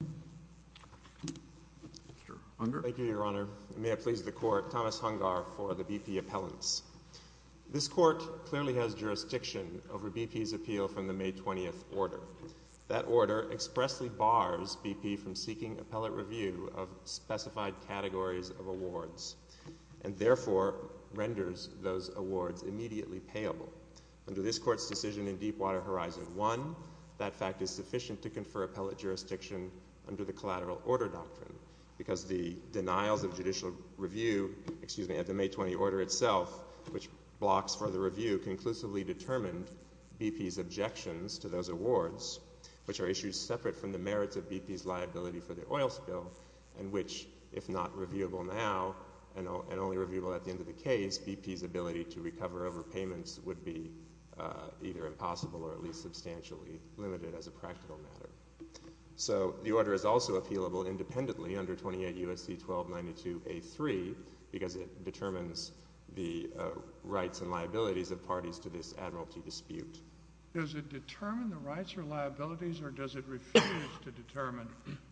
Thank you, Your Honor. May it please the Court, Thomas Hungar for the BP Appellants. This Court clearly has jurisdiction over BP's appeal from the May 20th order. That order expressly bars BP from seeking appellate review of specified categories of awards, and therefore renders those awards immediately payable. Under this Court's decision in Deepwater Horizon 1, that fact is sufficient to confer appellate jurisdiction under the collateral order doctrine, because the denials of judicial review, excuse me, at the May 20th order itself, which blocks further review, conclusively determined BP's objections to those awards, which are issues separate from the merits of BP's liability for the oil spill, and which, if not reviewable now and only reviewable at the end of the case, BP's ability to recover overpayments would be either impossible or at least substantially limited as a practical matter. So the order is also appealable independently under 28 U.S.C. 1292a3, because it determines the rights and liabilities of parties to this admiralty dispute. Does it determine the rights or liabilities, or does it refuse to determine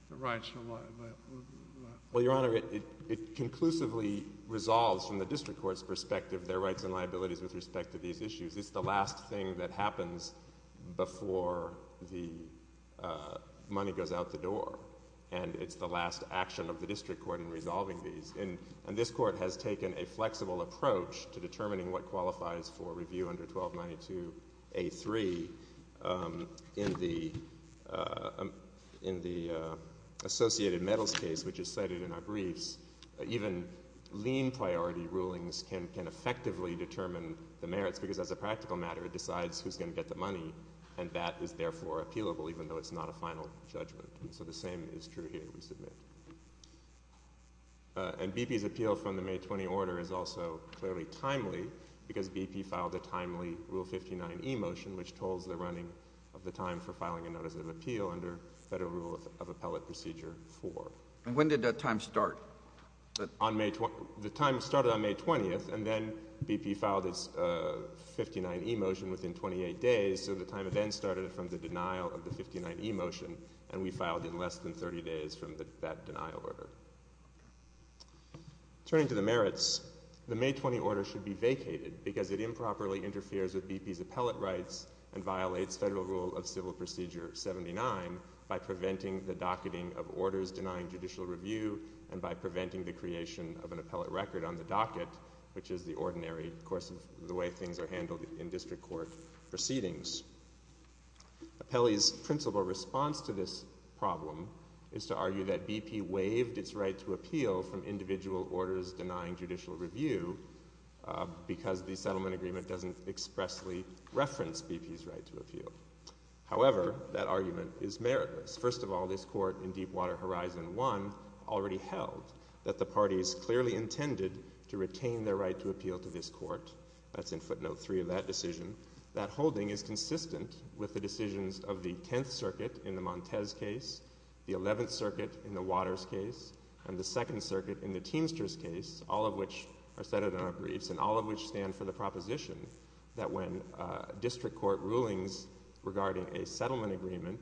the rights and liabilities? Well, Your Honor, it conclusively resolves from the district court's perspective their various issues. It's the last thing that happens before the money goes out the door, and it's the last action of the district court in resolving these. And this Court has taken a flexible approach to determining what qualifies for review under 1292a3. In the Associated Medals case, which is cited in our briefs, even lean priority rulings can effectively determine the merits, because as a practical matter it decides who's going to get the money, and that is therefore appealable, even though it's not a final judgment. So the same is true here, we submit. And BP's appeal from the May 20 order is also clearly timely, because BP filed a timely Rule 59e motion, which tolls the running of the time for filing a notice of appeal under Federal Rule of Appellate Procedure 4. When did that time start? The time started on May 20th, and then BP filed its 59e motion within 28 days, so the time then started from the denial of the 59e motion, and we filed in less than 30 days from that denial order. Turning to the merits, the May 20 order should be vacated, because it improperly interferes with BP's appellate rights and violates Federal Rule of Civil Procedure 79 by preventing the docketing of orders denying judicial review, and by preventing the creation of an appellate record on the docket, which is the ordinary course of the way things are handled in district court proceedings. Appellee's principal response to this problem is to argue that BP waived its right to appeal from individual orders denying judicial review, because the settlement agreement doesn't expressly reference BP's right to appeal. However, that argument is meritless. First of all, this Court in Deepwater Horizon 1 already held that the parties clearly intended to retain their right to appeal to this Court. That's in footnote 3 of that decision. That holding is consistent with the decisions of the Tenth Circuit in the Montes case, the Eleventh Circuit in the Waters case, and the Second Circuit in the Teamsters case, all of which are cited in our briefs, and all of which stand for the proposition that when district court rulings regarding a settlement agreement,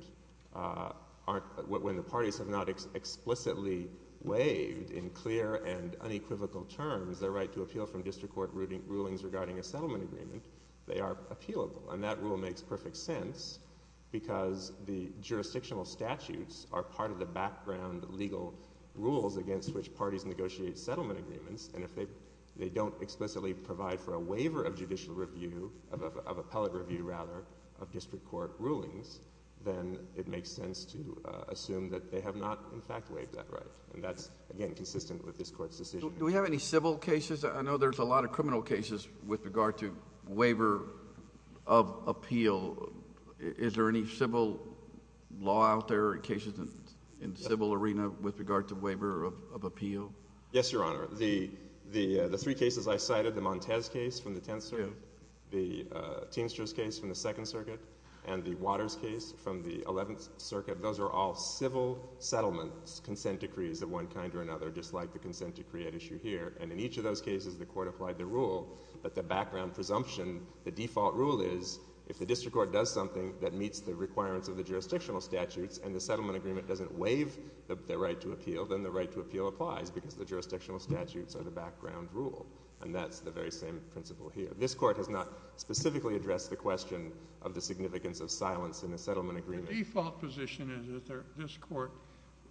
when the parties have not explicitly waived in clear and unequivocal terms their right to appeal from district court rulings regarding a settlement agreement, they are appealable, and that rule makes perfect sense because the jurisdictional statutes are part of the background legal rules against which parties negotiate settlement agreements, and if they don't explicitly provide for a waiver of judicial review, of appellate review rather, of district court rulings, then it makes sense to assume that they have not in fact waived that right, and that's, again, consistent with this Court's decision. Do we have any civil cases? I know there's a lot of criminal cases with regard to waiver of appeal. Is there any civil law out there or cases in the civil arena with regard to waiver of appeal? Yes, Your Honor. The three cases I cited, the Montez case from the 10th Circuit, the Teamsters case from the 2nd Circuit, and the Waters case from the 11th Circuit, those are all civil settlement consent decrees of one kind or another, just like the consent decree at issue here, and in each of those cases, the Court applied the rule, but the background presumption, the default rule is if the district court does something that meets the requirements of the jurisdictional statutes and the settlement agreement doesn't waive their right to appeal, then the right to appeal applies because the jurisdictional statutes are the background rule, and that's the very same principle here. This Court has not specifically addressed the question of the significance of silence in a settlement agreement. The default position is that this Court's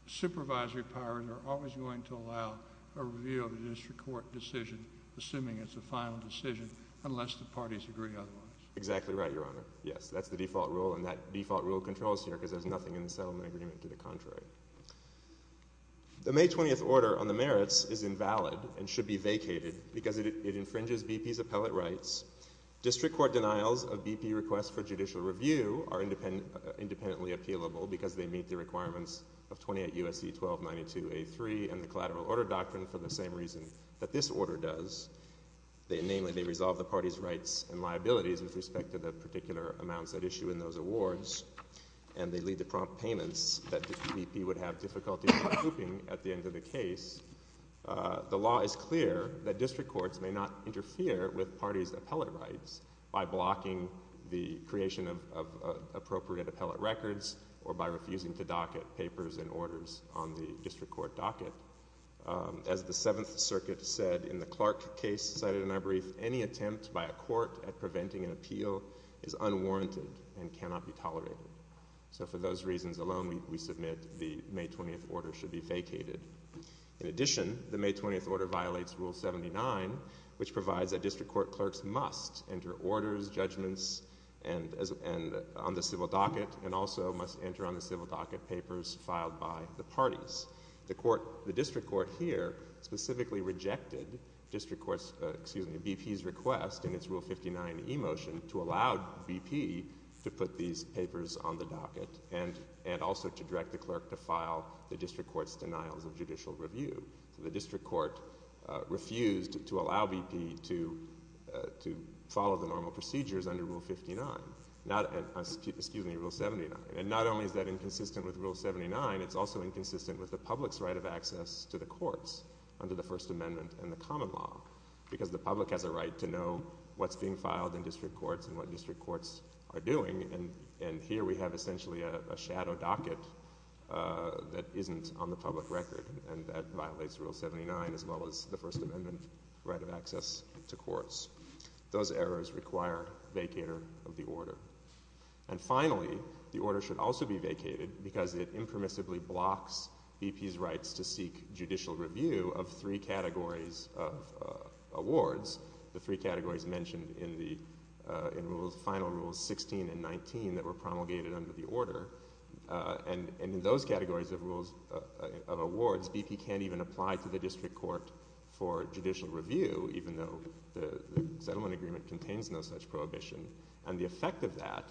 supervisory powers are always going to allow a review of a district court decision, assuming it's a final decision, unless the parties agree otherwise. Exactly right, Your Honor. Yes, that's the default rule, and that default rule controls here because there's nothing in the settlement agreement to the contrary. The May 20th order on the merits is invalid and should be vacated because it infringes BP's appellate rights. District court denials of BP requests for judicial review are independently appealable because they meet the requirements of 28 U.S.C. 1292a3 and the collateral order doctrine for the same reason that this order does, namely, they resolve the parties' rights and liabilities with respect to the particular amounts that issue in those awards, and they lead to prompt payments that BP would have difficulty approving at the end of the case. The law is clear that district courts may not interfere with parties' appellate rights by blocking the creation of appropriate appellate records or by refusing to docket papers and orders on the district court docket. As the Seventh Circuit said in the Clark case cited in our brief, any attempt by a court at preventing an appeal is unwarranted and cannot be tolerated. So for those reasons alone, we submit the May 20th order should be vacated. In addition, the May 20th order violates Rule 79, which provides that district court clerks must enter orders, judgments, and on the civil docket, and also must enter on the civil docket papers filed by the parties. The district court here specifically rejected district court's, excuse me, BP's request in its Rule 59 e-motion to allow BP to put these papers on the docket and also to direct the clerk to file the district court's denials of judicial review. The district court refused to allow BP to follow the normal procedures under Rule 59, excuse me, Rule 79. And not only is that inconsistent with Rule 79, it's also inconsistent with the public's right of access to the courts under the First Amendment and the common law because the public has a right to know what's being filed in district courts and what district courts are doing and here we have essentially a shadow docket that isn't on the public record and that violates Rule 79 as well as the First Amendment right of access to courts. Those errors require vacator of the order. And finally, the order should also be vacated because it impermissibly blocks BP's rights to seek judicial review of three categories of awards, the three categories mentioned in the final Rules 16 and 19 that were promulgated under the order. And in those categories of awards, BP can't even apply to the district court for judicial review even though the settlement agreement contains no such prohibition and the effect of that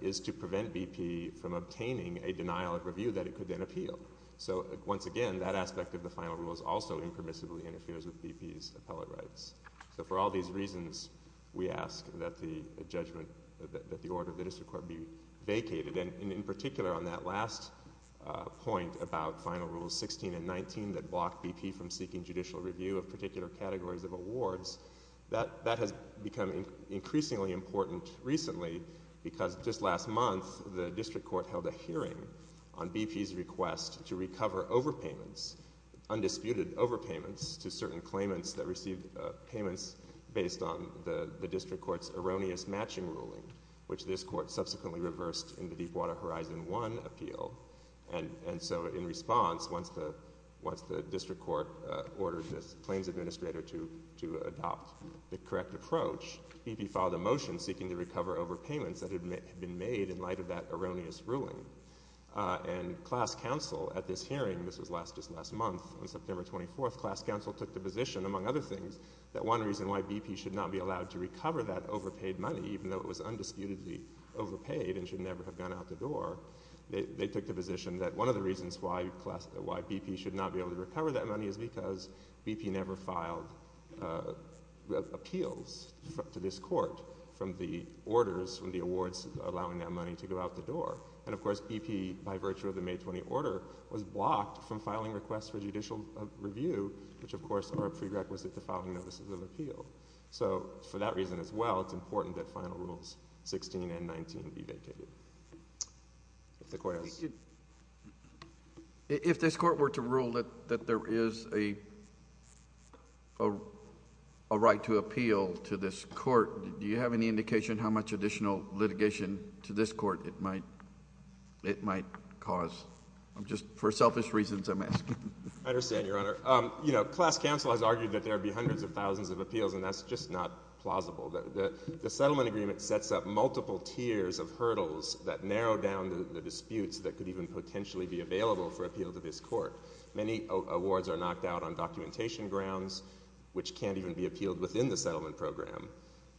is to prevent BP from obtaining a denial of review that it could then appeal. So once again, that aspect of the final Rules also impermissibly interferes with BP's appellate rights. So for all these reasons, we ask that the judgment, that the order of the district court be vacated. And in particular on that last point about final Rules 16 and 19 that block BP from seeking judicial review of particular categories of awards, that has become increasingly important recently because just last month, the district court held a hearing on BP's request to recover overpayments, undisputed overpayments to certain claimants that received payments based on the district court's erroneous matching ruling, which this court subsequently reversed in the Deepwater Horizon 1 appeal. And so in response, once the district court ordered the claims administrator to adopt the correct approach, BP filed a motion seeking to recover overpayments that had been made in light of that erroneous ruling. And class counsel at this hearing, this was just last month, on September 24th, class counsel took the position, among other things, that one reason why BP should not be allowed to recover that overpaid money, even though it was undisputedly overpaid and should never have gone out the door, they took the position that one of the reasons why BP should not be able to recover that money is because BP never filed appeals to this court from the orders, from the awards, allowing that money to go out the door. And of course, BP, by virtue of the May 20 order, was blocked from filing requests for judicial review, which of course are a prerequisite to filing notices of appeal. So for that reason as well, it's important that final rules 16 and 19 be vacated. If the court has... If this court were to rule that there is a right to appeal to this court, do you have any indication how much additional litigation to this court it might cause? Just for selfish reasons, I'm asking. I understand, Your Honor. You know, class counsel has argued that there would be hundreds of thousands of appeals, and that's just not plausible. The settlement agreement sets up multiple tiers of hurdles that narrow down the disputes that could even potentially be available for appeal to this court. Many awards are knocked out on documentation grounds, which can't even be appealed within the settlement program.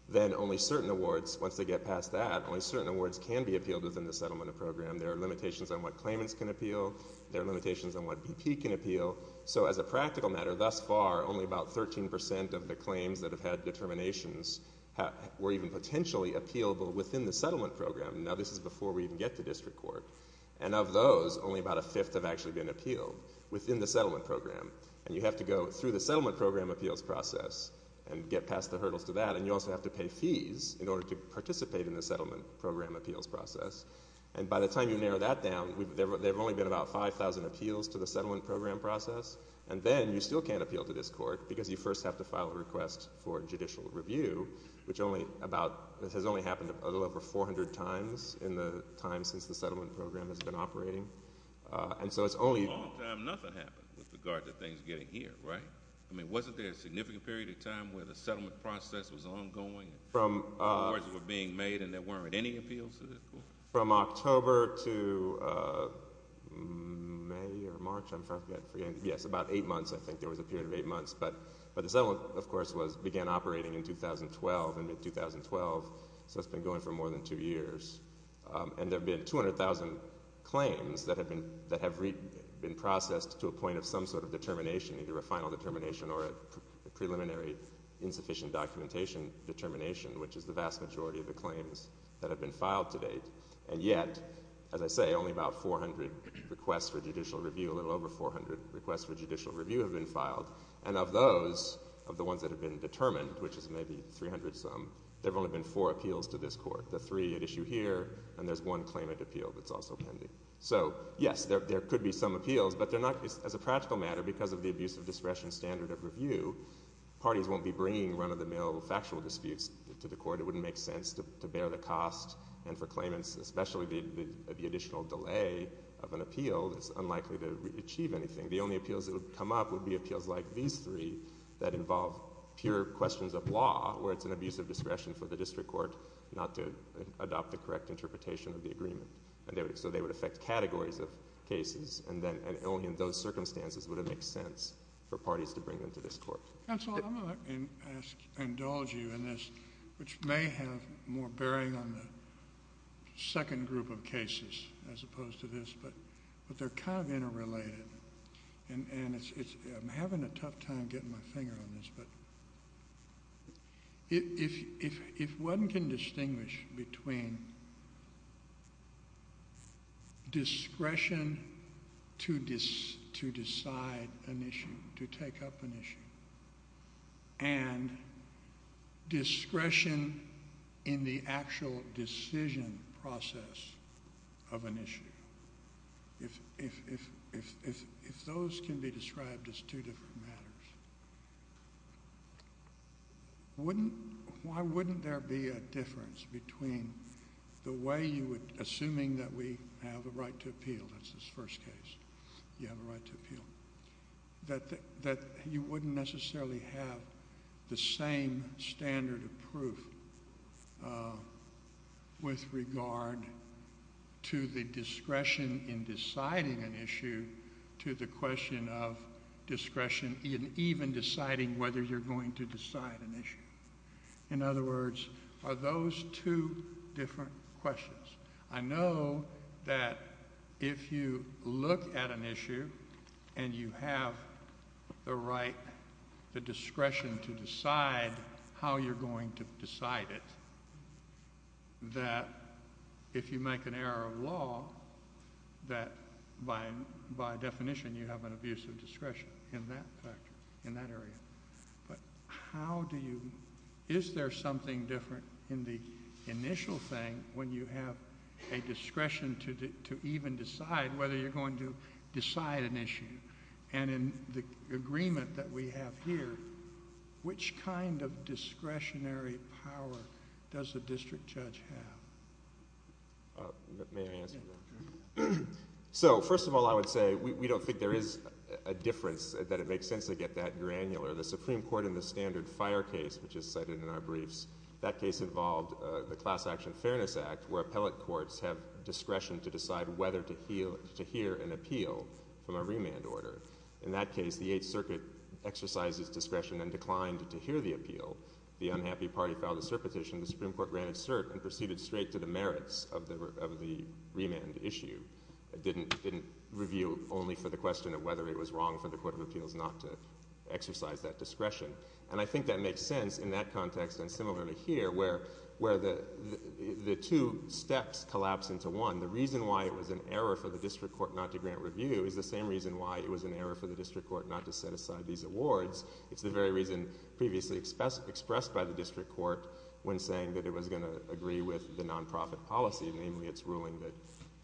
Then only certain awards, once they get past that, only certain awards can be appealed within the settlement program. There are limitations on what claimants can appeal. There are limitations on what BP can appeal. So as a practical matter, thus far, only about 13 percent of the claims that have had determinations were even potentially appealable within the settlement program. Now, this is before we even get to district court. And of those, only about a fifth have actually been appealed within the settlement program. And you have to go through the settlement program appeals process and get past the hurdles to that, and you also have to pay fees in order to participate in the settlement program appeals process. And by the time you narrow that down, there have only been about 5,000 appeals to the process. And then you still can't appeal to this court because you first have to file a request for judicial review, which only about, this has only happened a little over 400 times in the time since the settlement program has been operating. And so it's only- A long time, nothing happened with regard to things getting here, right? I mean, wasn't there a significant period of time where the settlement process was ongoing and awards were being made and there weren't any appeals to this court? From October to May or March, I'm trying to forget, yes, about eight months, I think there was a period of eight months. But the settlement, of course, began operating in 2012, in mid-2012, so it's been going for more than two years. And there have been 200,000 claims that have been processed to a point of some sort of determination, either a final determination or a preliminary insufficient documentation determination, which is the vast majority of the claims that have been filed to date. And yet, as I say, only about 400 requests for judicial review, a little over 400 requests for judicial review have been filed. And of those, of the ones that have been determined, which is maybe 300 some, there have only been four appeals to this court, the three at issue here, and there's one claimant appeal that's also pending. So yes, there could be some appeals, but they're not, as a practical matter, because of the abuse of discretion standard of review, parties won't be bringing run-of-the-mill factual disputes to the court. It wouldn't make sense to bear the cost. And for claimants, especially the additional delay of an appeal, it's unlikely to achieve anything. The only appeals that would come up would be appeals like these three that involve pure questions of law, where it's an abuse of discretion for the district court not to adopt the correct interpretation of the agreement. So they would affect categories of cases, and then only in those circumstances would it make sense for parties to bring them to this court. Counsel, I'm going to ask, indulge you in this, which may have more bearing on the second group of cases as opposed to this, but they're kind of interrelated. And it's, I'm having a tough time getting my finger on this, but if one can distinguish between discretion to decide an issue, to take up an issue, and discretion in the actual decision process of an issue, if those can be described as two different matters, wouldn't, why wouldn't there be a difference between the way you would, assuming that we have a right to appeal, that's this first case, you have a right to appeal, that you wouldn't necessarily have the same standard of proof with regard to the discretion in deciding an issue to the question of discretion in even deciding whether you're going to decide an issue? In other words, are those two different questions? I know that if you look at an issue and you have the right, the discretion to decide how you're going to decide it, that if you make an error of law, that by definition you have an abuse of discretion in that factor, in that area. But how do you, is there something different in the initial thing when you have a discretion to even decide whether you're going to decide an issue? And in the agreement that we have here, which kind of discretionary power does the district judge have? May I answer that? So first of all, I would say we don't think there is a difference, that it makes sense to get that granular. The Supreme Court in the standard fire case, which is cited in our briefs, that case involved the Class Action Fairness Act, where appellate courts have discretion to decide whether to hear an appeal from a remand order. In that case, the Eighth Circuit exercised its discretion and declined to hear the appeal. The unhappy party filed a cert petition, the Supreme Court granted cert, and proceeded straight to the merits of the remand issue, didn't review only for the question of whether it was wrong for the Court of Appeals not to exercise that discretion. And I think that makes sense in that context, and similarly here, where the two steps collapse into one. The reason why it was an error for the district court not to grant review is the same reason why it was an error for the district court not to set aside these awards. It's the very reason previously expressed by the district court when saying that it was going to agree with the non-profit policy, namely its ruling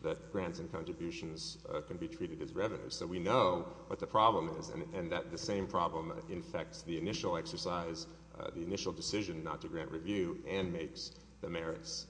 that grants and contributions can be treated as revenue. So we know what the problem is, and that the same problem infects the initial exercise, the initial decision not to grant review, and makes the merits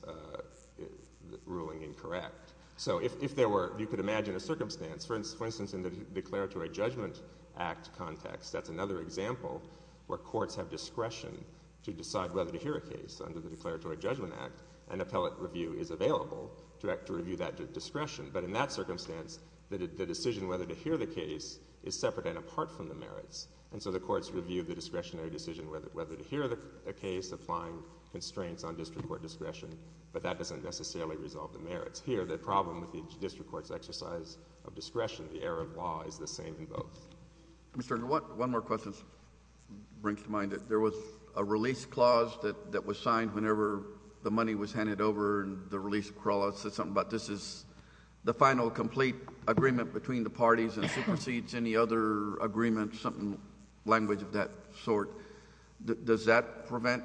ruling incorrect. So if there were, you could imagine a circumstance, for instance, in the Declaratory Judgment Act context, that's another example where courts have discretion to decide whether to hear a case. Under the Declaratory Judgment Act, an appellate review is available to review that discretion. But in that circumstance, the decision whether to hear the case is separate and apart from the merits. And so the courts review the discretionary decision whether to hear the case, applying constraints on district court discretion, but that doesn't necessarily resolve the merits. Here, the problem with the district court's exercise of discretion, the error of law, is the same in both. Mr. Engel, one more question brings to mind. There was a release clause that was signed whenever the money was handed over, and the final complete agreement between the parties and supersedes any other agreement, some language of that sort. Does that prevent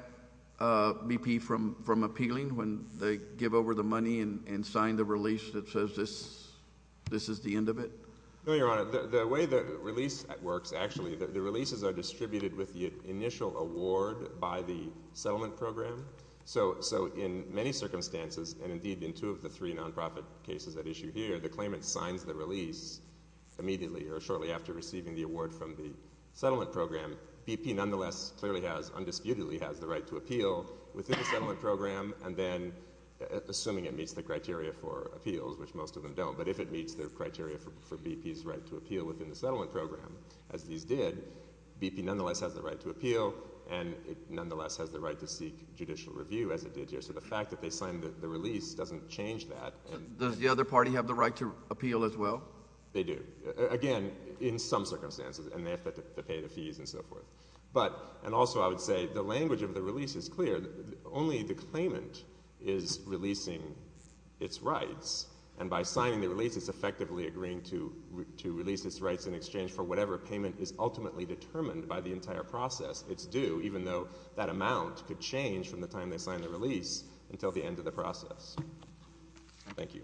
BP from appealing when they give over the money and sign the release that says this is the end of it? No, Your Honor. The way the release works, actually, the releases are distributed with the initial award by the settlement program. So in many circumstances, and indeed in two of the three non-profit cases at issue here, the claimant signs the release immediately or shortly after receiving the award from the settlement program, BP nonetheless clearly has, undisputedly has the right to appeal within the settlement program, and then, assuming it meets the criteria for appeals, which most of them don't, but if it meets the criteria for BP's right to appeal within the settlement program, as these did, BP nonetheless has the right to appeal, and it nonetheless has the right to seek judicial review, as it did here. So the fact that they signed the release doesn't change that. Does the other party have the right to appeal as well? They do. Again, in some circumstances, and they have to pay the fees and so forth. And also, I would say, the language of the release is clear. Only the claimant is releasing its rights, and by signing the release, it's effectively agreeing to release its rights in exchange for whatever payment is ultimately determined by the entire process. It's due, even though that amount could change from the time they sign the release until the end of the process. Thank you.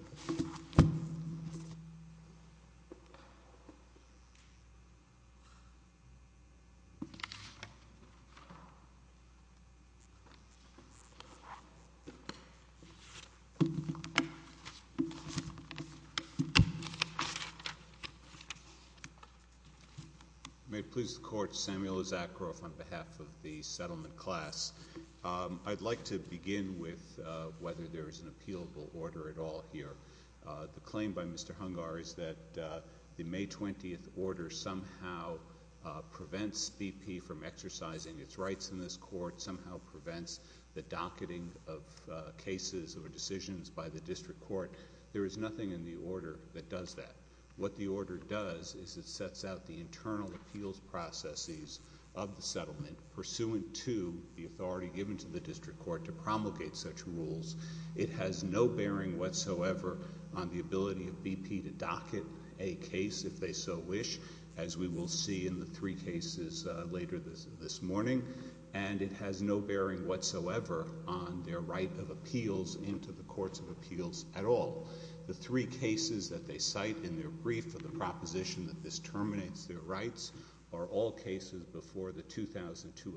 May it please the Court, Samuel Issacharoff on behalf of the settlement class. I'd like to begin with whether there is an appealable order at all here. The claim by Mr. Hungar is that the May 20th order somehow prevents BP from exercising its rights in this Court, somehow prevents the docketing of cases or decisions by the district court. There is nothing in the order that does that. What the order does is it sets out the internal appeals processes of the settlement pursuant to the authority given to the district court to promulgate such rules. It has no bearing whatsoever on the ability of BP to docket a case, if they so wish, as we will see in the three cases later this morning. And it has no bearing whatsoever on their right of appeals into the courts of appeals at all. The three cases that they cite in their brief for the proposition that this terminates their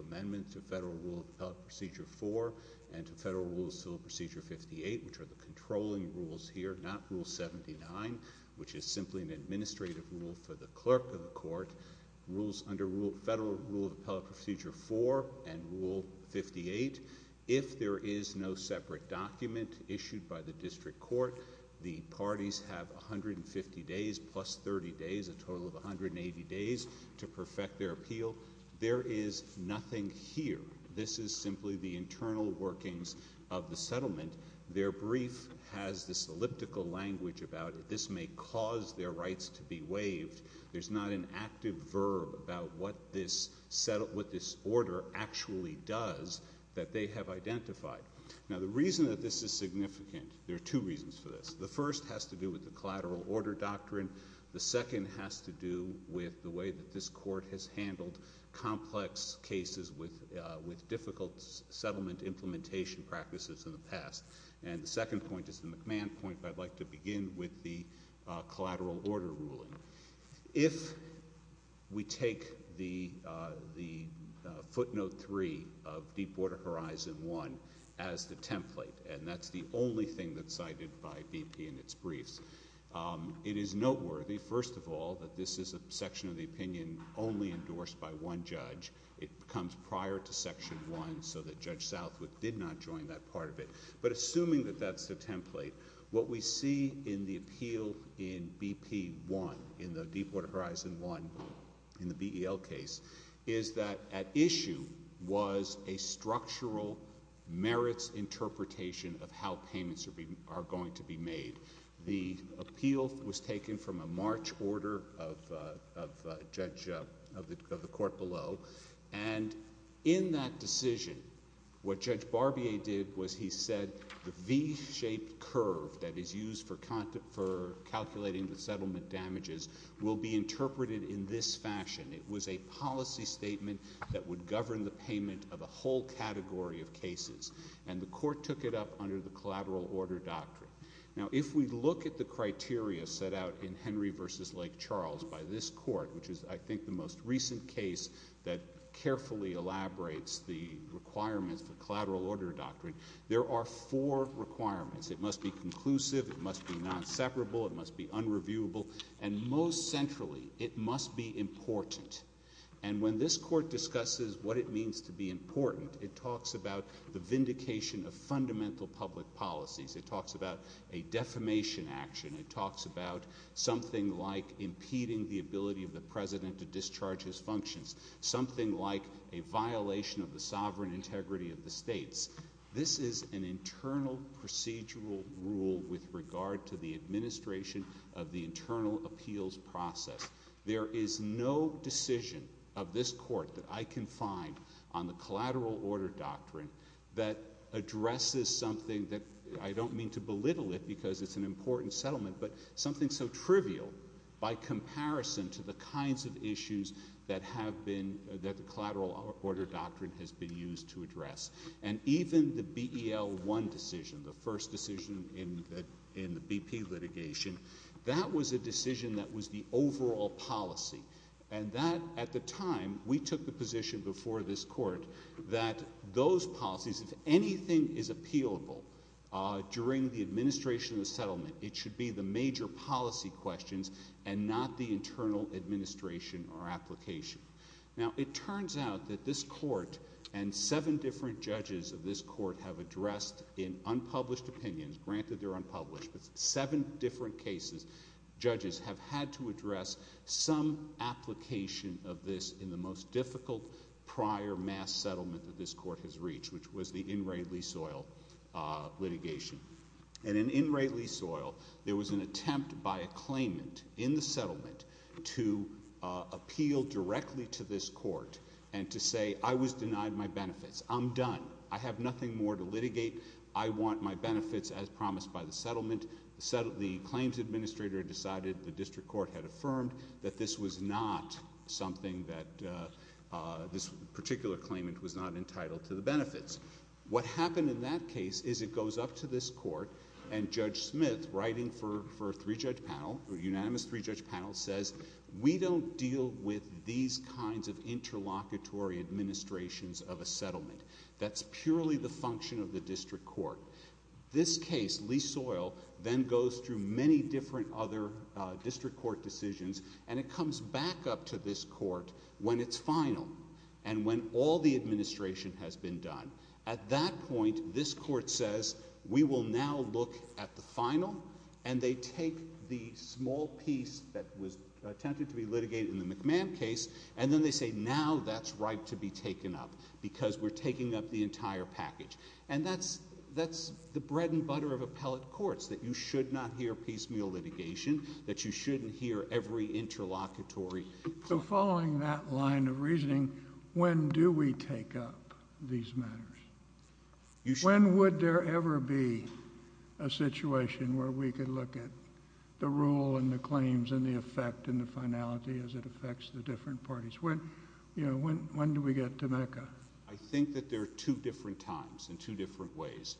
amendment to Federal Rule of Appellate Procedure 4 and to Federal Rule of Appellate Procedure 58, which are the controlling rules here, not Rule 79, which is simply an administrative rule for the clerk of the court, rules under Federal Rule of Appellate Procedure 4 and Rule 58. If there is no separate document issued by the district court, the parties have 150 days plus 30 days, a total of 180 days to perfect their appeal. There is nothing here. This is simply the internal workings of the settlement. Their brief has this elliptical language about this may cause their rights to be waived. There's not an active verb about what this order actually does that they have identified. Now, the reason that this is significant, there are two reasons for this. The first has to do with the collateral order doctrine. The second has to do with the way that this court has handled complex cases with difficult settlement implementation practices in the past. And the second point is the McMahon point, but I'd like to begin with the collateral order ruling. If we take the footnote 3 of Deepwater Horizon 1 as the template, and that's the only thing that's cited by BP in its briefs, it is noteworthy, first of all, that this is a section of the opinion only endorsed by one judge. It comes prior to Section 1 so that Judge Southwick did not join that part of it. But assuming that that's the template, what we see in the appeal in BP 1, in the Deepwater Horizon 1, in the BEL case, is that at issue was a structural merits interpretation of how payments are going to be made. The appeal was taken from a March order of the court below. And in that decision, what Judge Barbier did was he said the V-shaped curve that is used for calculating the settlement damages will be interpreted in this fashion. It was a policy statement that would govern the payment of a whole category of cases. And the court took it up under the collateral order doctrine. Now, if we look at the criteria set out in Henry v. Lake Charles by this court, which is, I think, the most recent case that carefully elaborates the requirements of the collateral order doctrine, there are four requirements. It must be conclusive, it must be non-separable, it must be unreviewable, and most centrally, it must be important. And when this court discusses what it means to be important, it talks about the vindication of fundamental public policies, it talks about a defamation action, it talks about something like impeding the ability of the president to discharge his functions, something like a violation of the sovereign integrity of the states. This is an internal procedural rule with regard to the administration of the internal appeals process. There is no decision of this court that I can find on the collateral order doctrine that addresses something that, I don't mean to belittle it because it's an important settlement, but something so trivial by comparison to the kinds of issues that have been, that the collateral order doctrine has been used to address. And even the BEL-1 decision, the first decision in the BP litigation, that was a decision that was the overall policy. And that, at the time, we took the position before this court that those policies, if anything is appealable during the administration of the settlement, it should be the major policy questions and not the internal administration or application. Now, it turns out that this court and seven different judges of this court have addressed in unpublished opinions, granted they're unpublished, but seven different cases, judges have had to address some application of this in the most difficult prior mass settlement that this court has reached, which was the In Re Le Soil litigation. And in In Re Le Soil, there was an attempt by a claimant in the settlement to appeal directly to this court and to say, I was denied my benefits, I'm done, I have nothing more to litigate, I want my benefits as promised by the settlement. The claims administrator decided, the district court had affirmed, that this was not something that this particular claimant was not entitled to the benefits. What happened in that case is it goes up to this court and Judge Smith, writing for a three-judge panel, a unanimous three-judge panel, says, we don't deal with these kinds of interlocutory administrations of a settlement. That's purely the function of the district court. This case, Le Soil, then goes through many different other district court decisions, and it comes back up to this court when it's final and when all the administration has been done. At that point, this court says, we will now look at the final, and they take the small piece that was attempted to be litigated in the McMahon case, and then they say, now that's right to be taken up, because we're taking up the entire package. And that's the bread and butter of appellate courts, that you should not hear piecemeal litigation, that you shouldn't hear every interlocutory. So following that line of reasoning, when do we take up these matters? When would there ever be a situation where we could look at the rule and the claims and the effect and the finality as it affects the different parties? When do we get to MECA? I think that there are two different times in two different ways.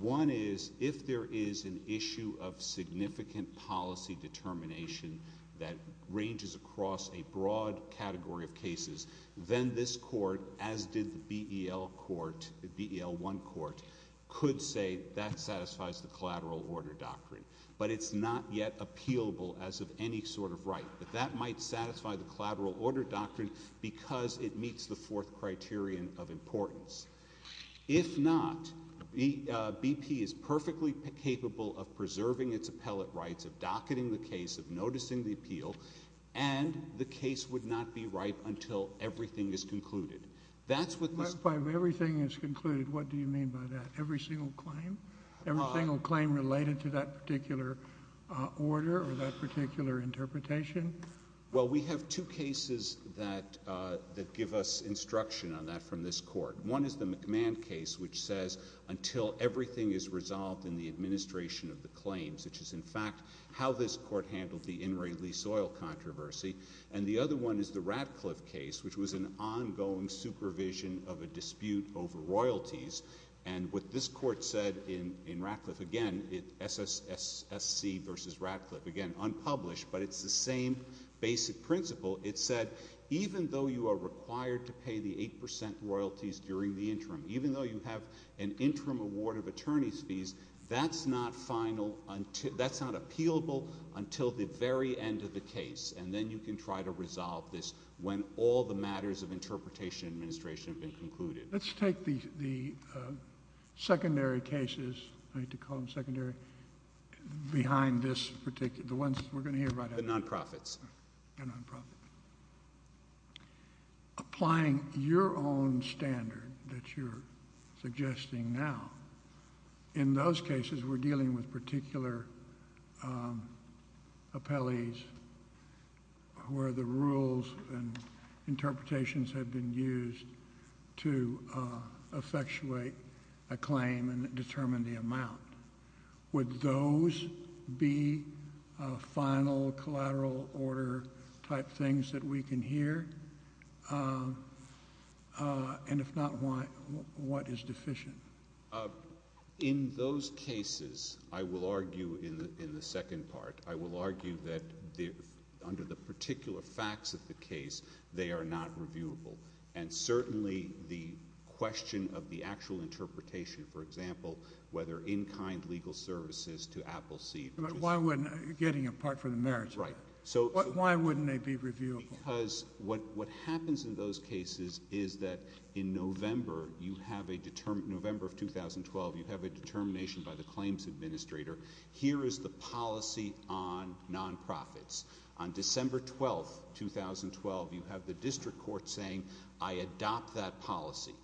One is, if there is an issue of significant policy determination that ranges across a broad category of cases, then this court, as did the BEL court, the BEL1 court, could say that satisfies the collateral order doctrine. But it's not yet appealable as of any sort of right, that that might satisfy the collateral order doctrine, because it meets the fourth criterion of importance. If not, BP is perfectly capable of preserving its appellate rights, of docketing the case, of noticing the appeal, and the case would not be right until everything is concluded. That's what this- If everything is concluded, what do you mean by that? Every single claim? Every single claim related to that particular order or that particular interpretation? Well, we have two cases that give us instruction on that from this court. One is the McMahon case, which says, until everything is resolved in the administration of the claims, which is, in fact, how this court handled the in-release oil controversy. And the other one is the Radcliffe case, which was an ongoing supervision of a dispute over royalties. And what this court said in Radcliffe, again, SSC versus Radcliffe, again, unpublished, but it's the same basic principle. It said, even though you are required to pay the 8% royalties during the interim, even though you have an interim award of attorney's fees, that's not final until- that's not appealable until the very end of the case, and then you can try to resolve this when all the matters of interpretation and administration have been concluded. Let's take the secondary cases, I hate to call them secondary, behind this particular- The ones we're going to hear right now. The non-profits. The non-profits. Applying your own standard that you're suggesting now, in those cases, we're dealing with particular appellees where the rules and interpretations have been used to effectuate a claim and determine the amount. Would those be final, collateral order-type things that we can hear? And if not, what is deficient? In those cases, I will argue in the second part, I will argue that under the particular facts of the case, they are not reviewable. And certainly the question of the actual interpretation, for example, whether in-kind legal services to apple seed- But why wouldn't- getting a part for the marriage. Right. Why wouldn't they be reviewable? Because what happens in those cases is that in November, you have a- November of 2012, you have a determination by the claims administrator, here is the policy on non-profits. On December 12, 2012, you have the district court saying, I adopt that policy.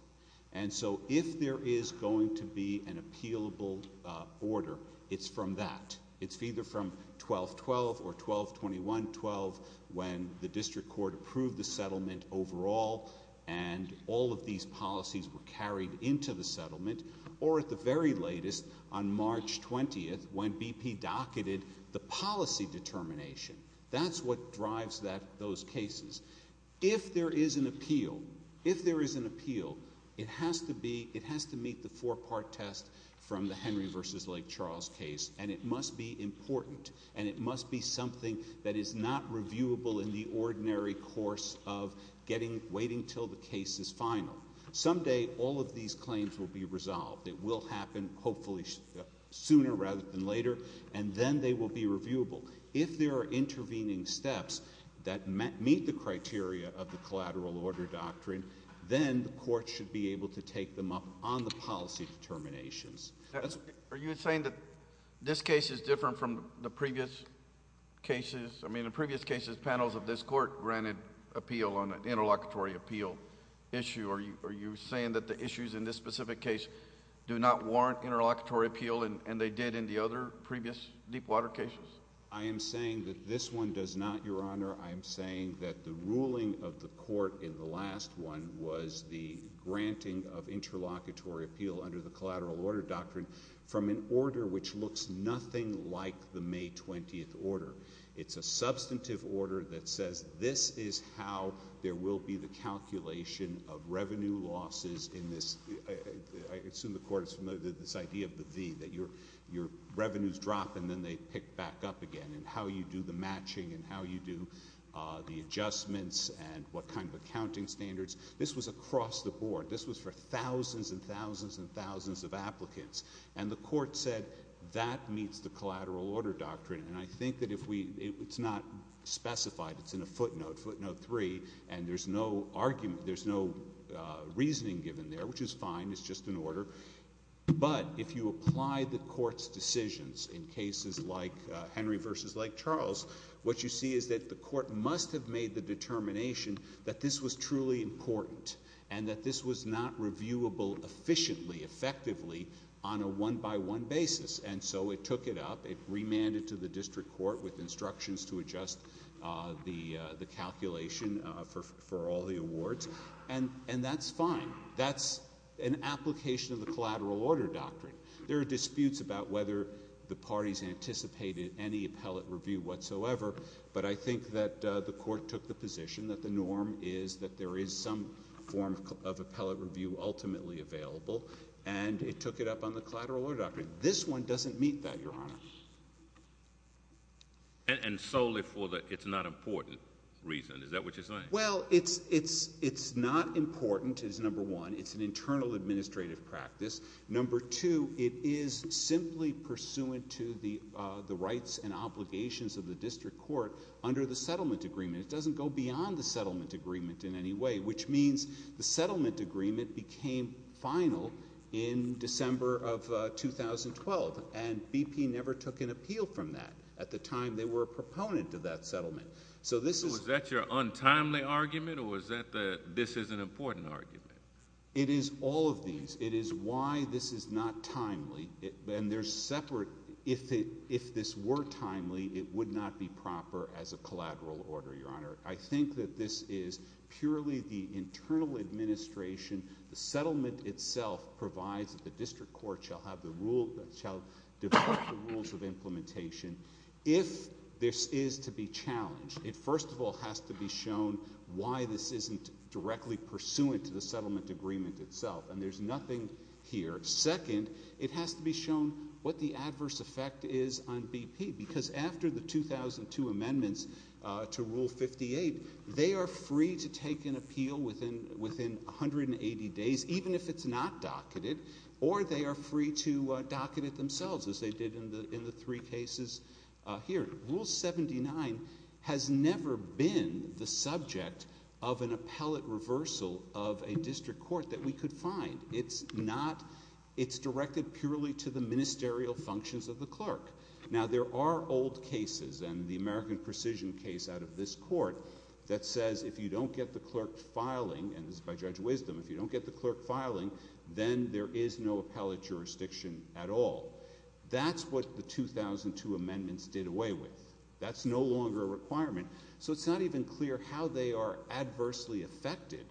And so if there is going to be an appealable order, it's from that. It's either from 12-12 or 12-21-12 when the district court approved the settlement overall and all of these policies were carried into the settlement. Or at the very latest, on March 20th, when BP docketed the policy determination. That's what drives that- those cases. If there is an appeal, if there is an appeal, it has to be- it has to meet the four-part test from the Henry v. Lake Charles case. And it must be important. And it must be something that is not reviewable in the ordinary course of getting- waiting until the case is final. Someday, all of these claims will be resolved. It will happen, hopefully, sooner rather than later. And then they will be reviewable. If there are intervening steps that meet the criteria of the collateral order doctrine, then the court should be able to take them up on the policy determinations. Are you saying that this case is different from the previous cases? I mean, in previous cases, panels of this court granted appeal on an interlocutory appeal issue. Are you saying that the issues in this specific case do not warrant interlocutory appeal, and they did in the other previous deepwater cases? I am saying that this one does not, Your Honor. I am saying that the ruling of the court in the last one was the granting of interlocutory appeal under the collateral order doctrine from an order which looks nothing like the May 20th order. It's a substantive order that says this is how there will be the calculation of revenue losses in this- I assume the court is familiar with this idea of the V, that your revenues drop and then they pick back up again, and how you do the matching and how you do the adjustments and what kind of accounting standards. This was across the board. This was for thousands and thousands and thousands of applicants. And the court said that meets the collateral order doctrine. And I think that if we- it's not specified, it's in a footnote, footnote 3, and there's no argument, there's no reasoning given there, which is fine, it's just an order. But if you apply the court's decisions in cases like Henry v. Lake Charles, what you see is that the court must have made the determination that this was truly important and that this was not reviewable efficiently, effectively, on a one-by-one basis. And so it took it up, it remanded to the district court with instructions to adjust the calculation for all the awards, and that's fine. That's an application of the collateral order doctrine. There are disputes about whether the parties anticipated any appellate review whatsoever, but I think that the court took the position that the norm is that there is some form of appellate review ultimately available, and it took it up on the collateral order doctrine. This one doesn't meet that, Your Honor. And solely for the it's not important reason, is that what you're saying? Well, it's not important, is number one, it's an internal administrative practice. Number two, it is simply pursuant to the rights and obligations of the district court under the settlement agreement. It doesn't go beyond the settlement agreement in any way, which means the settlement agreement became final in December of 2012, and BP never took an appeal from that. At the time, they were a proponent of that settlement. So this is... So is that your untimely argument, or is that the this is an important argument? It is all of these. It is why this is not timely, and they're separate. If this were timely, it would not be proper as a collateral order, Your Honor. I think that this is purely the internal administration, the settlement itself provides that the district court shall have the rule, shall develop the rules of implementation. If this is to be challenged, it first of all has to be shown why this isn't directly pursuant to the settlement agreement itself, and there's nothing here. Second, it has to be shown what the adverse effect is on BP, because after the 2002 amendments to Rule 58, they are free to take an appeal within 180 days, even if it's not docketed, or they are free to docket it themselves, as they did in the three cases here. Rule 79 has never been the subject of an appellate reversal of a district court that we could find. It's not... It's directed purely to the ministerial functions of the clerk. Now, there are old cases, and the American Precision case out of this court that says if you don't get the clerk filing, and this is by Judge Wisdom, if you don't get the clerk filing, then there is no appellate jurisdiction at all. That's what the 2002 amendments did away with. That's no longer a requirement. So it's not even clear how they are adversely affected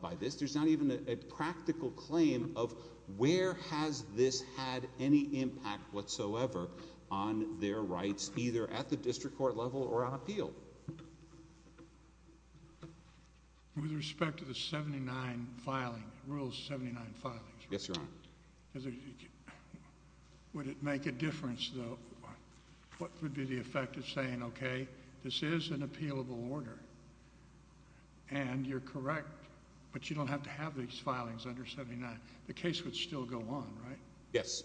by this. There's not even a practical claim of where has this had any impact whatsoever on their rights, either at the district court level or on appeal. With respect to the 79 filing, Rule 79 filings, would it make a difference, though? What would be the effect of saying, okay, this is an appealable order, and you're correct, but you don't have to have these filings under 79? The case would still go on, right? Yes.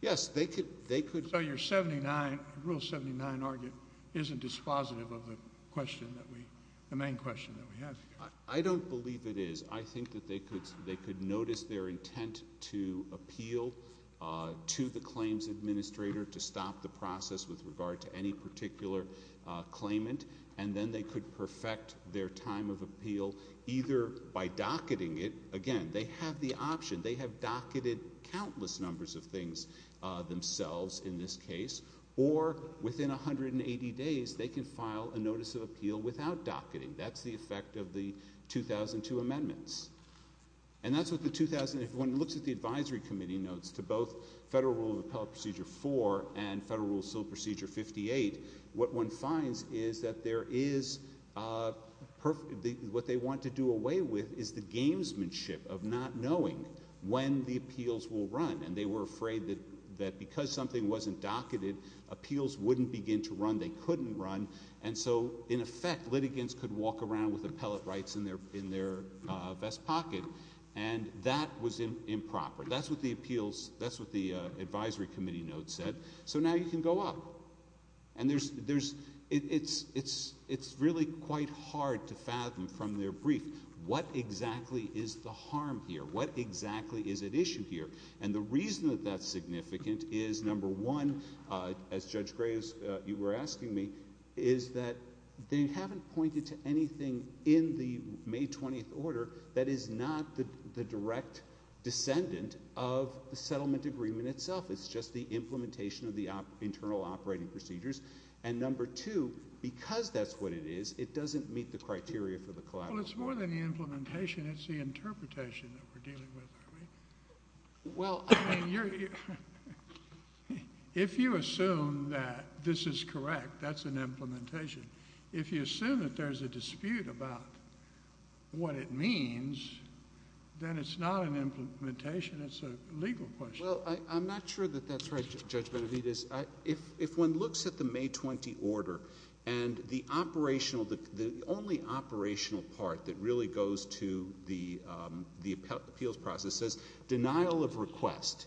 Yes. They could... So your 79, Rule 79 argument, isn't dispositive of the question that we, the main question that we have here. I don't believe it is. I think that they could notice their intent to appeal to the claims administrator to stop the process with regard to any particular claimant, and then they could perfect their time of appeal either by docketing it, again, they have the option, they have docketed countless numbers of things themselves in this case, or within 180 days, they can file a notice of appeal without docketing. That's the effect of the 2002 amendments. And that's what the 2000... If one looks at the advisory committee notes to both Federal Rule of Appellate Procedure 4 and Federal Rule of Appellate Procedure 58, what one finds is that there is... What they want to do away with is the gamesmanship of not knowing when the appeals will run, and they were afraid that because something wasn't docketed, appeals wouldn't begin to run, they couldn't run, and so, in effect, litigants could walk around with appellate rights in their vest pocket, and that was improper. That's what the appeals... That's what the advisory committee notes said. So now you can go up, and there's... It's really quite hard to fathom from their brief, what exactly is the harm here? What exactly is at issue here? And the reason that that's significant is, number one, as Judge Graves, you were asking me, is that they haven't pointed to anything in the May 20th order that is not the direct descendant of the settlement agreement itself. It's just the implementation of the internal operating procedures. And number two, because that's what it is, it doesn't meet the criteria for the collateral. Well, it's more than the implementation. It's the interpretation that we're dealing with, aren't we? Well, I mean, you're... If you assume that this is correct, that's an implementation. If you assume that there's a dispute about what it means, then it's not an implementation. It's a legal question. Well, I'm not sure that that's right, Judge Benavidez. If one looks at the May 20th order, and the operational... The only operational part that really goes to the appeals process is denial of request.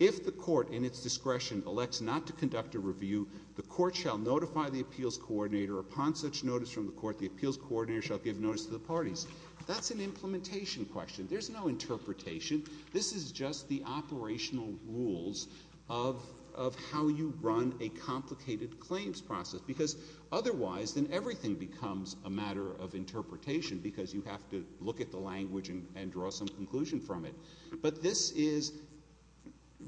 If the court, in its discretion, elects not to conduct a review, the court shall notify the appeals coordinator. Upon such notice from the court, the appeals coordinator shall give notice to the parties. That's an implementation question. There's no interpretation. This is just the operational rules of how you run a complicated claims process, because otherwise, then everything becomes a matter of interpretation, because you have to look at the language and draw some conclusion from it. But this is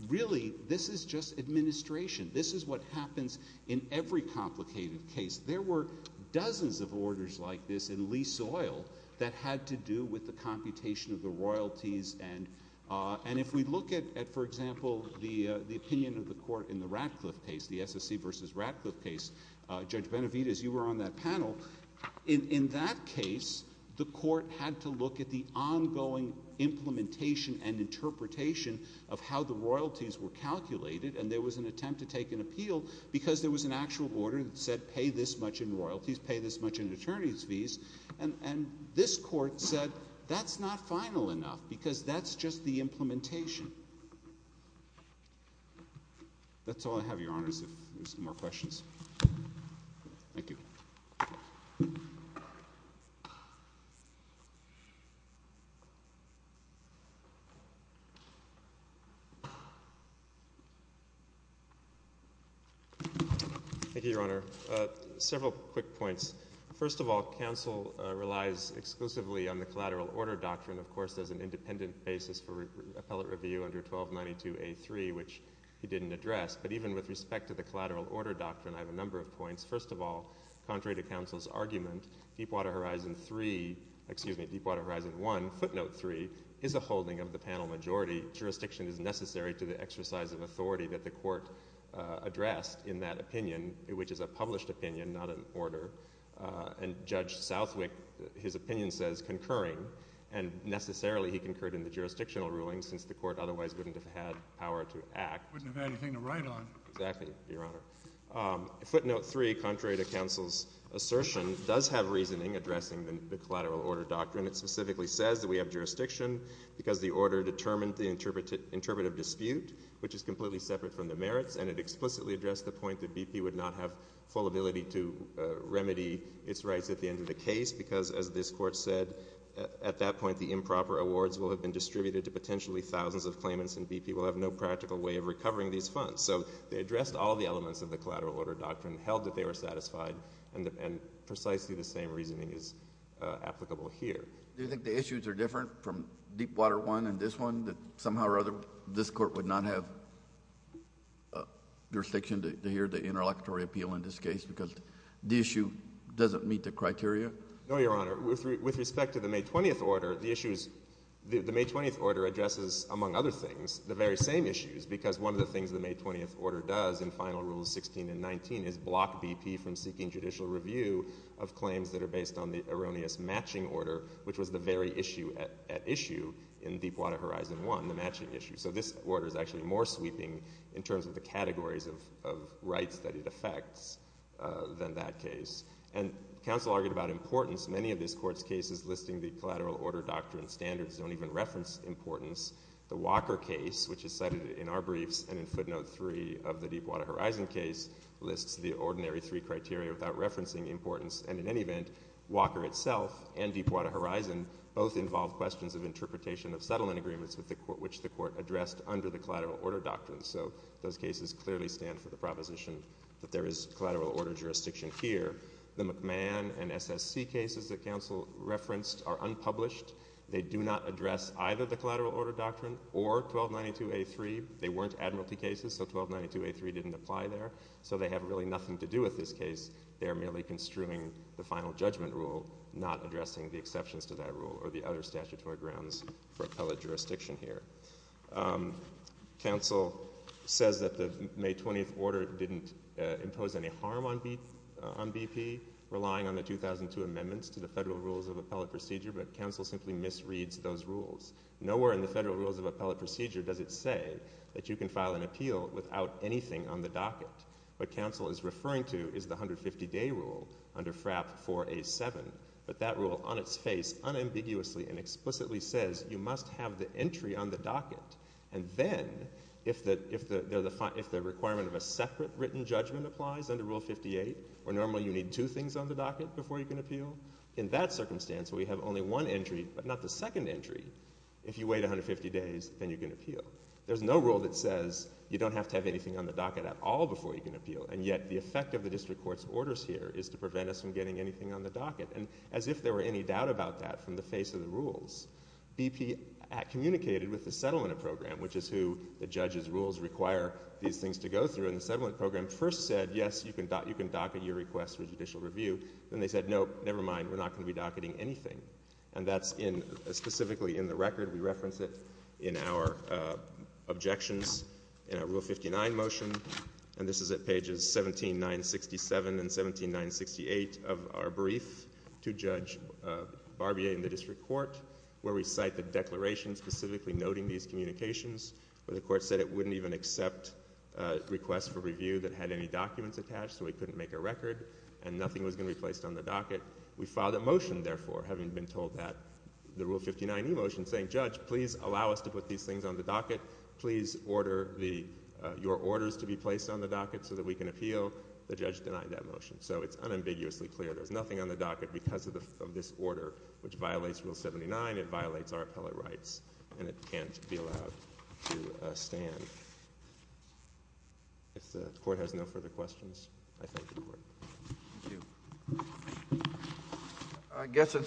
really... This is just administration. This is what happens in every complicated case. There were dozens of orders like this in Lee Soil that had to do with the computation of the royalties. And if we look at, for example, the opinion of the court in the Ratcliffe case, the SSC versus Ratcliffe case, Judge Benavidez, you were on that panel. In that case, the court had to look at the ongoing implementation and interpretation of how the royalties were calculated. And there was an attempt to take an appeal, because there was an actual order that said, pay this much in royalties, pay this much in attorney's fees. And this court said, that's not final enough, because that's just the implementation. That's all I have, Your Honors, if there's no more questions. Thank you. Thank you, Your Honor. Several quick points. First of all, counsel relies exclusively on the collateral order doctrine, of course, as an independent basis for appellate review under 1292A3, which he didn't address. But even with respect to the collateral order doctrine, I have a number of points. First of all, contrary to counsel's argument, Deepwater Horizon 3... Excuse me, Deepwater Horizon 1, footnote 3, is a holding of the panel majority. Jurisdiction is necessary to the exercise of authority that the court addressed in that opinion, which is a published opinion, not an order. And Judge Southwick, his opinion says, concurring. And necessarily, he concurred in the jurisdictional ruling, since the court otherwise wouldn't have had power to act. Wouldn't have had anything to write on. Exactly, Your Honor. Footnote 3, contrary to counsel's assertion, does have reasoning addressing the collateral order doctrine. It specifically says that we have jurisdiction, because the order determined the interpretative dispute, which is completely separate from the merits. And it explicitly addressed the point that BP would not have full ability to remedy its rights at the end of the case, because, as this court said, at that point, the improper awards will have been distributed to potentially thousands of claimants, and BP will have no practical way of recovering these funds. So they addressed all the elements of the collateral order doctrine, held that they were satisfied, and precisely the same reasoning is applicable here. Do you think the issues are different from Deepwater I and this one, that somehow or other, this court would not have jurisdiction to hear the interlocutory appeal in this case, because the issue doesn't meet the criteria? No, Your Honor. With respect to the May 20th order, the issues... The May 20th order addresses, among other things, the very same issues, because one of the things the May 20th order does in Final Rules 16 and 19 is block BP from seeking judicial review of claims that are based on the erroneous matching order, which was the very issue at issue in Deepwater Horizon I, the matching issue. So this order is actually more sweeping in terms of the categories of rights that it affects than that case. And counsel argued about importance. Many of this court's cases listing the collateral order doctrine standards don't even reference importance. The Walker case, which is cited in our briefs and in footnote three of the Deepwater Horizon case, lists the ordinary three criteria without referencing importance, and in any event, Walker itself and Deepwater Horizon both involve questions of interpretation of settlement agreements which the court addressed under the collateral order doctrine. So those cases clearly stand for the proposition that there is collateral order jurisdiction here. The McMahon and SSC cases that counsel referenced are unpublished. They do not address either the collateral order doctrine or 1292A3. They weren't admiralty cases, so 1292A3 didn't apply there. So they have really nothing to do with this case. They are merely construing the final judgment rule, not addressing the exceptions to that rule or the other statutory grounds for appellate jurisdiction here. Counsel says that the May 20th order didn't impose any harm on BP, relying on the 2002 amendments to the federal rules of appellate procedure, but counsel simply misreads those rules. Nowhere in the federal rules of appellate procedure does it say that you can file an appeal without anything on the docket. What counsel is referring to is the 150-day rule under FRAP 4A7, but that rule on its face unambiguously and explicitly says you must have the entry on the docket, and then if the requirement of a separate written judgment applies under Rule 58, or normally you need two things on the docket before you can appeal, in that circumstance we have only one entry, but not the second entry. If you wait 150 days, then you can appeal. There's no rule that says you don't have to have anything on the docket at all before you can appeal, and yet the effect of the district court's orders here is to prevent us from getting anything on the docket. And as if there were any doubt about that from the face of the rules, BP communicated with the settlement program, which is who the judge's rules require these things to go through, and the settlement program first said, yes, you can docket your request for judicial review. Then they said, no, never mind, we're not going to be docketing anything. And that's specifically in the record. We reference it in our objections in our Rule 59 motion, and this is at pages 17967 and 17968 of our brief to Judge Barbier in the district court, where we cite the declaration specifically noting these communications, where the court said it wouldn't even accept requests for review that had any documents attached, so we couldn't make a record, and nothing was going to be placed on the docket. We filed a motion, therefore, having been told that. The Rule 59 e-motion saying, judge, please allow us to put these things on the docket. Please order your orders to be placed on the docket so that we can appeal. The judge denied that motion. So it's unambiguously clear. There's nothing on the docket because of this order, which violates Rule 79. It violates our appellate rights, and it can't be allowed to stand. If the court has no further questions, I thank the court. Thank you.